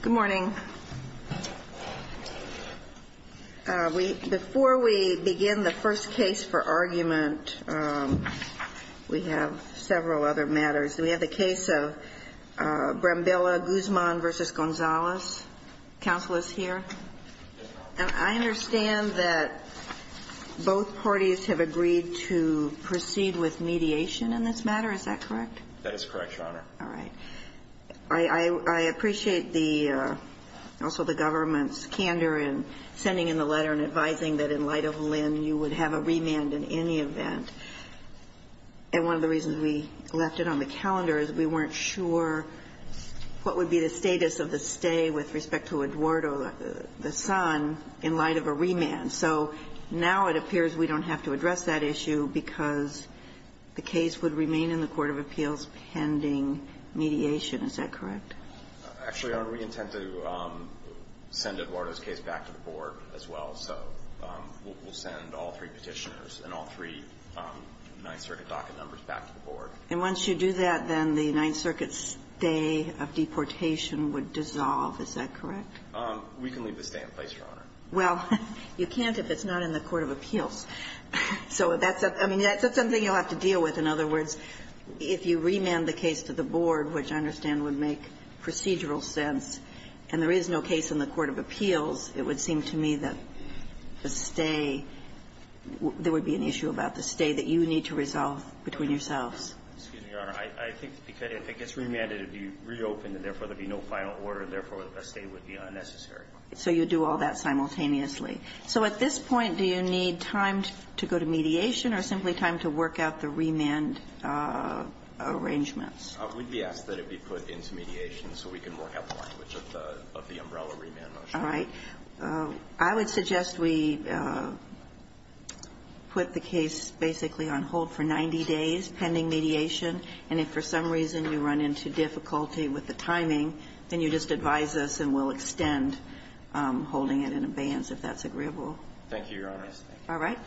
Good morning. Before we begin the first case for argument, we have several other matters. We have the case of Brambilia-Guzman v. Gonzales. Counsel is here. And I understand that both parties have agreed to proceed with mediation in this matter. Is that correct? That is correct, Your Honor. All right. I appreciate the also the government's candor in sending in the letter and advising that in light of Lynn, you would have a remand in any event. And one of the reasons we left it on the calendar is we weren't sure what would be the status of the stay with respect to Eduardo, the son, in light of a remand. So now it appears we don't have to address that issue because the case would remain in the court of appeals pending mediation. Is that correct? Actually, Your Honor, we intend to send Eduardo's case back to the Board as well. So we'll send all three Petitioners and all three Ninth Circuit docket numbers back to the Board. And once you do that, then the Ninth Circuit's stay of deportation would dissolve. Is that correct? We can leave the stay in place, Your Honor. Well, you can't if it's not in the court of appeals. So that's a – I mean, that's something you'll have to deal with. In other words, if you remand the case to the Board, which I understand would make procedural sense, and there is no case in the court of appeals, it would seem to me that the stay – there would be an issue about the stay that you need to resolve between yourselves. Excuse me, Your Honor. I think because if it gets remanded, it would be reopened, and therefore, there would be no final order, and therefore, a stay would be unnecessary. So you would do all that simultaneously. So at this point, do you need time to go to mediation or simply time to work out the remand arrangements? We'd be asked that it be put into mediation so we can work out the language of the umbrella remand motion. All right. I would suggest we put the case basically on hold for 90 days pending mediation, and if for some reason you run into difficulty with the timing, then you just advise us and we'll extend holding it in advance, if that's agreeable. Thank you, Your Honor. All right.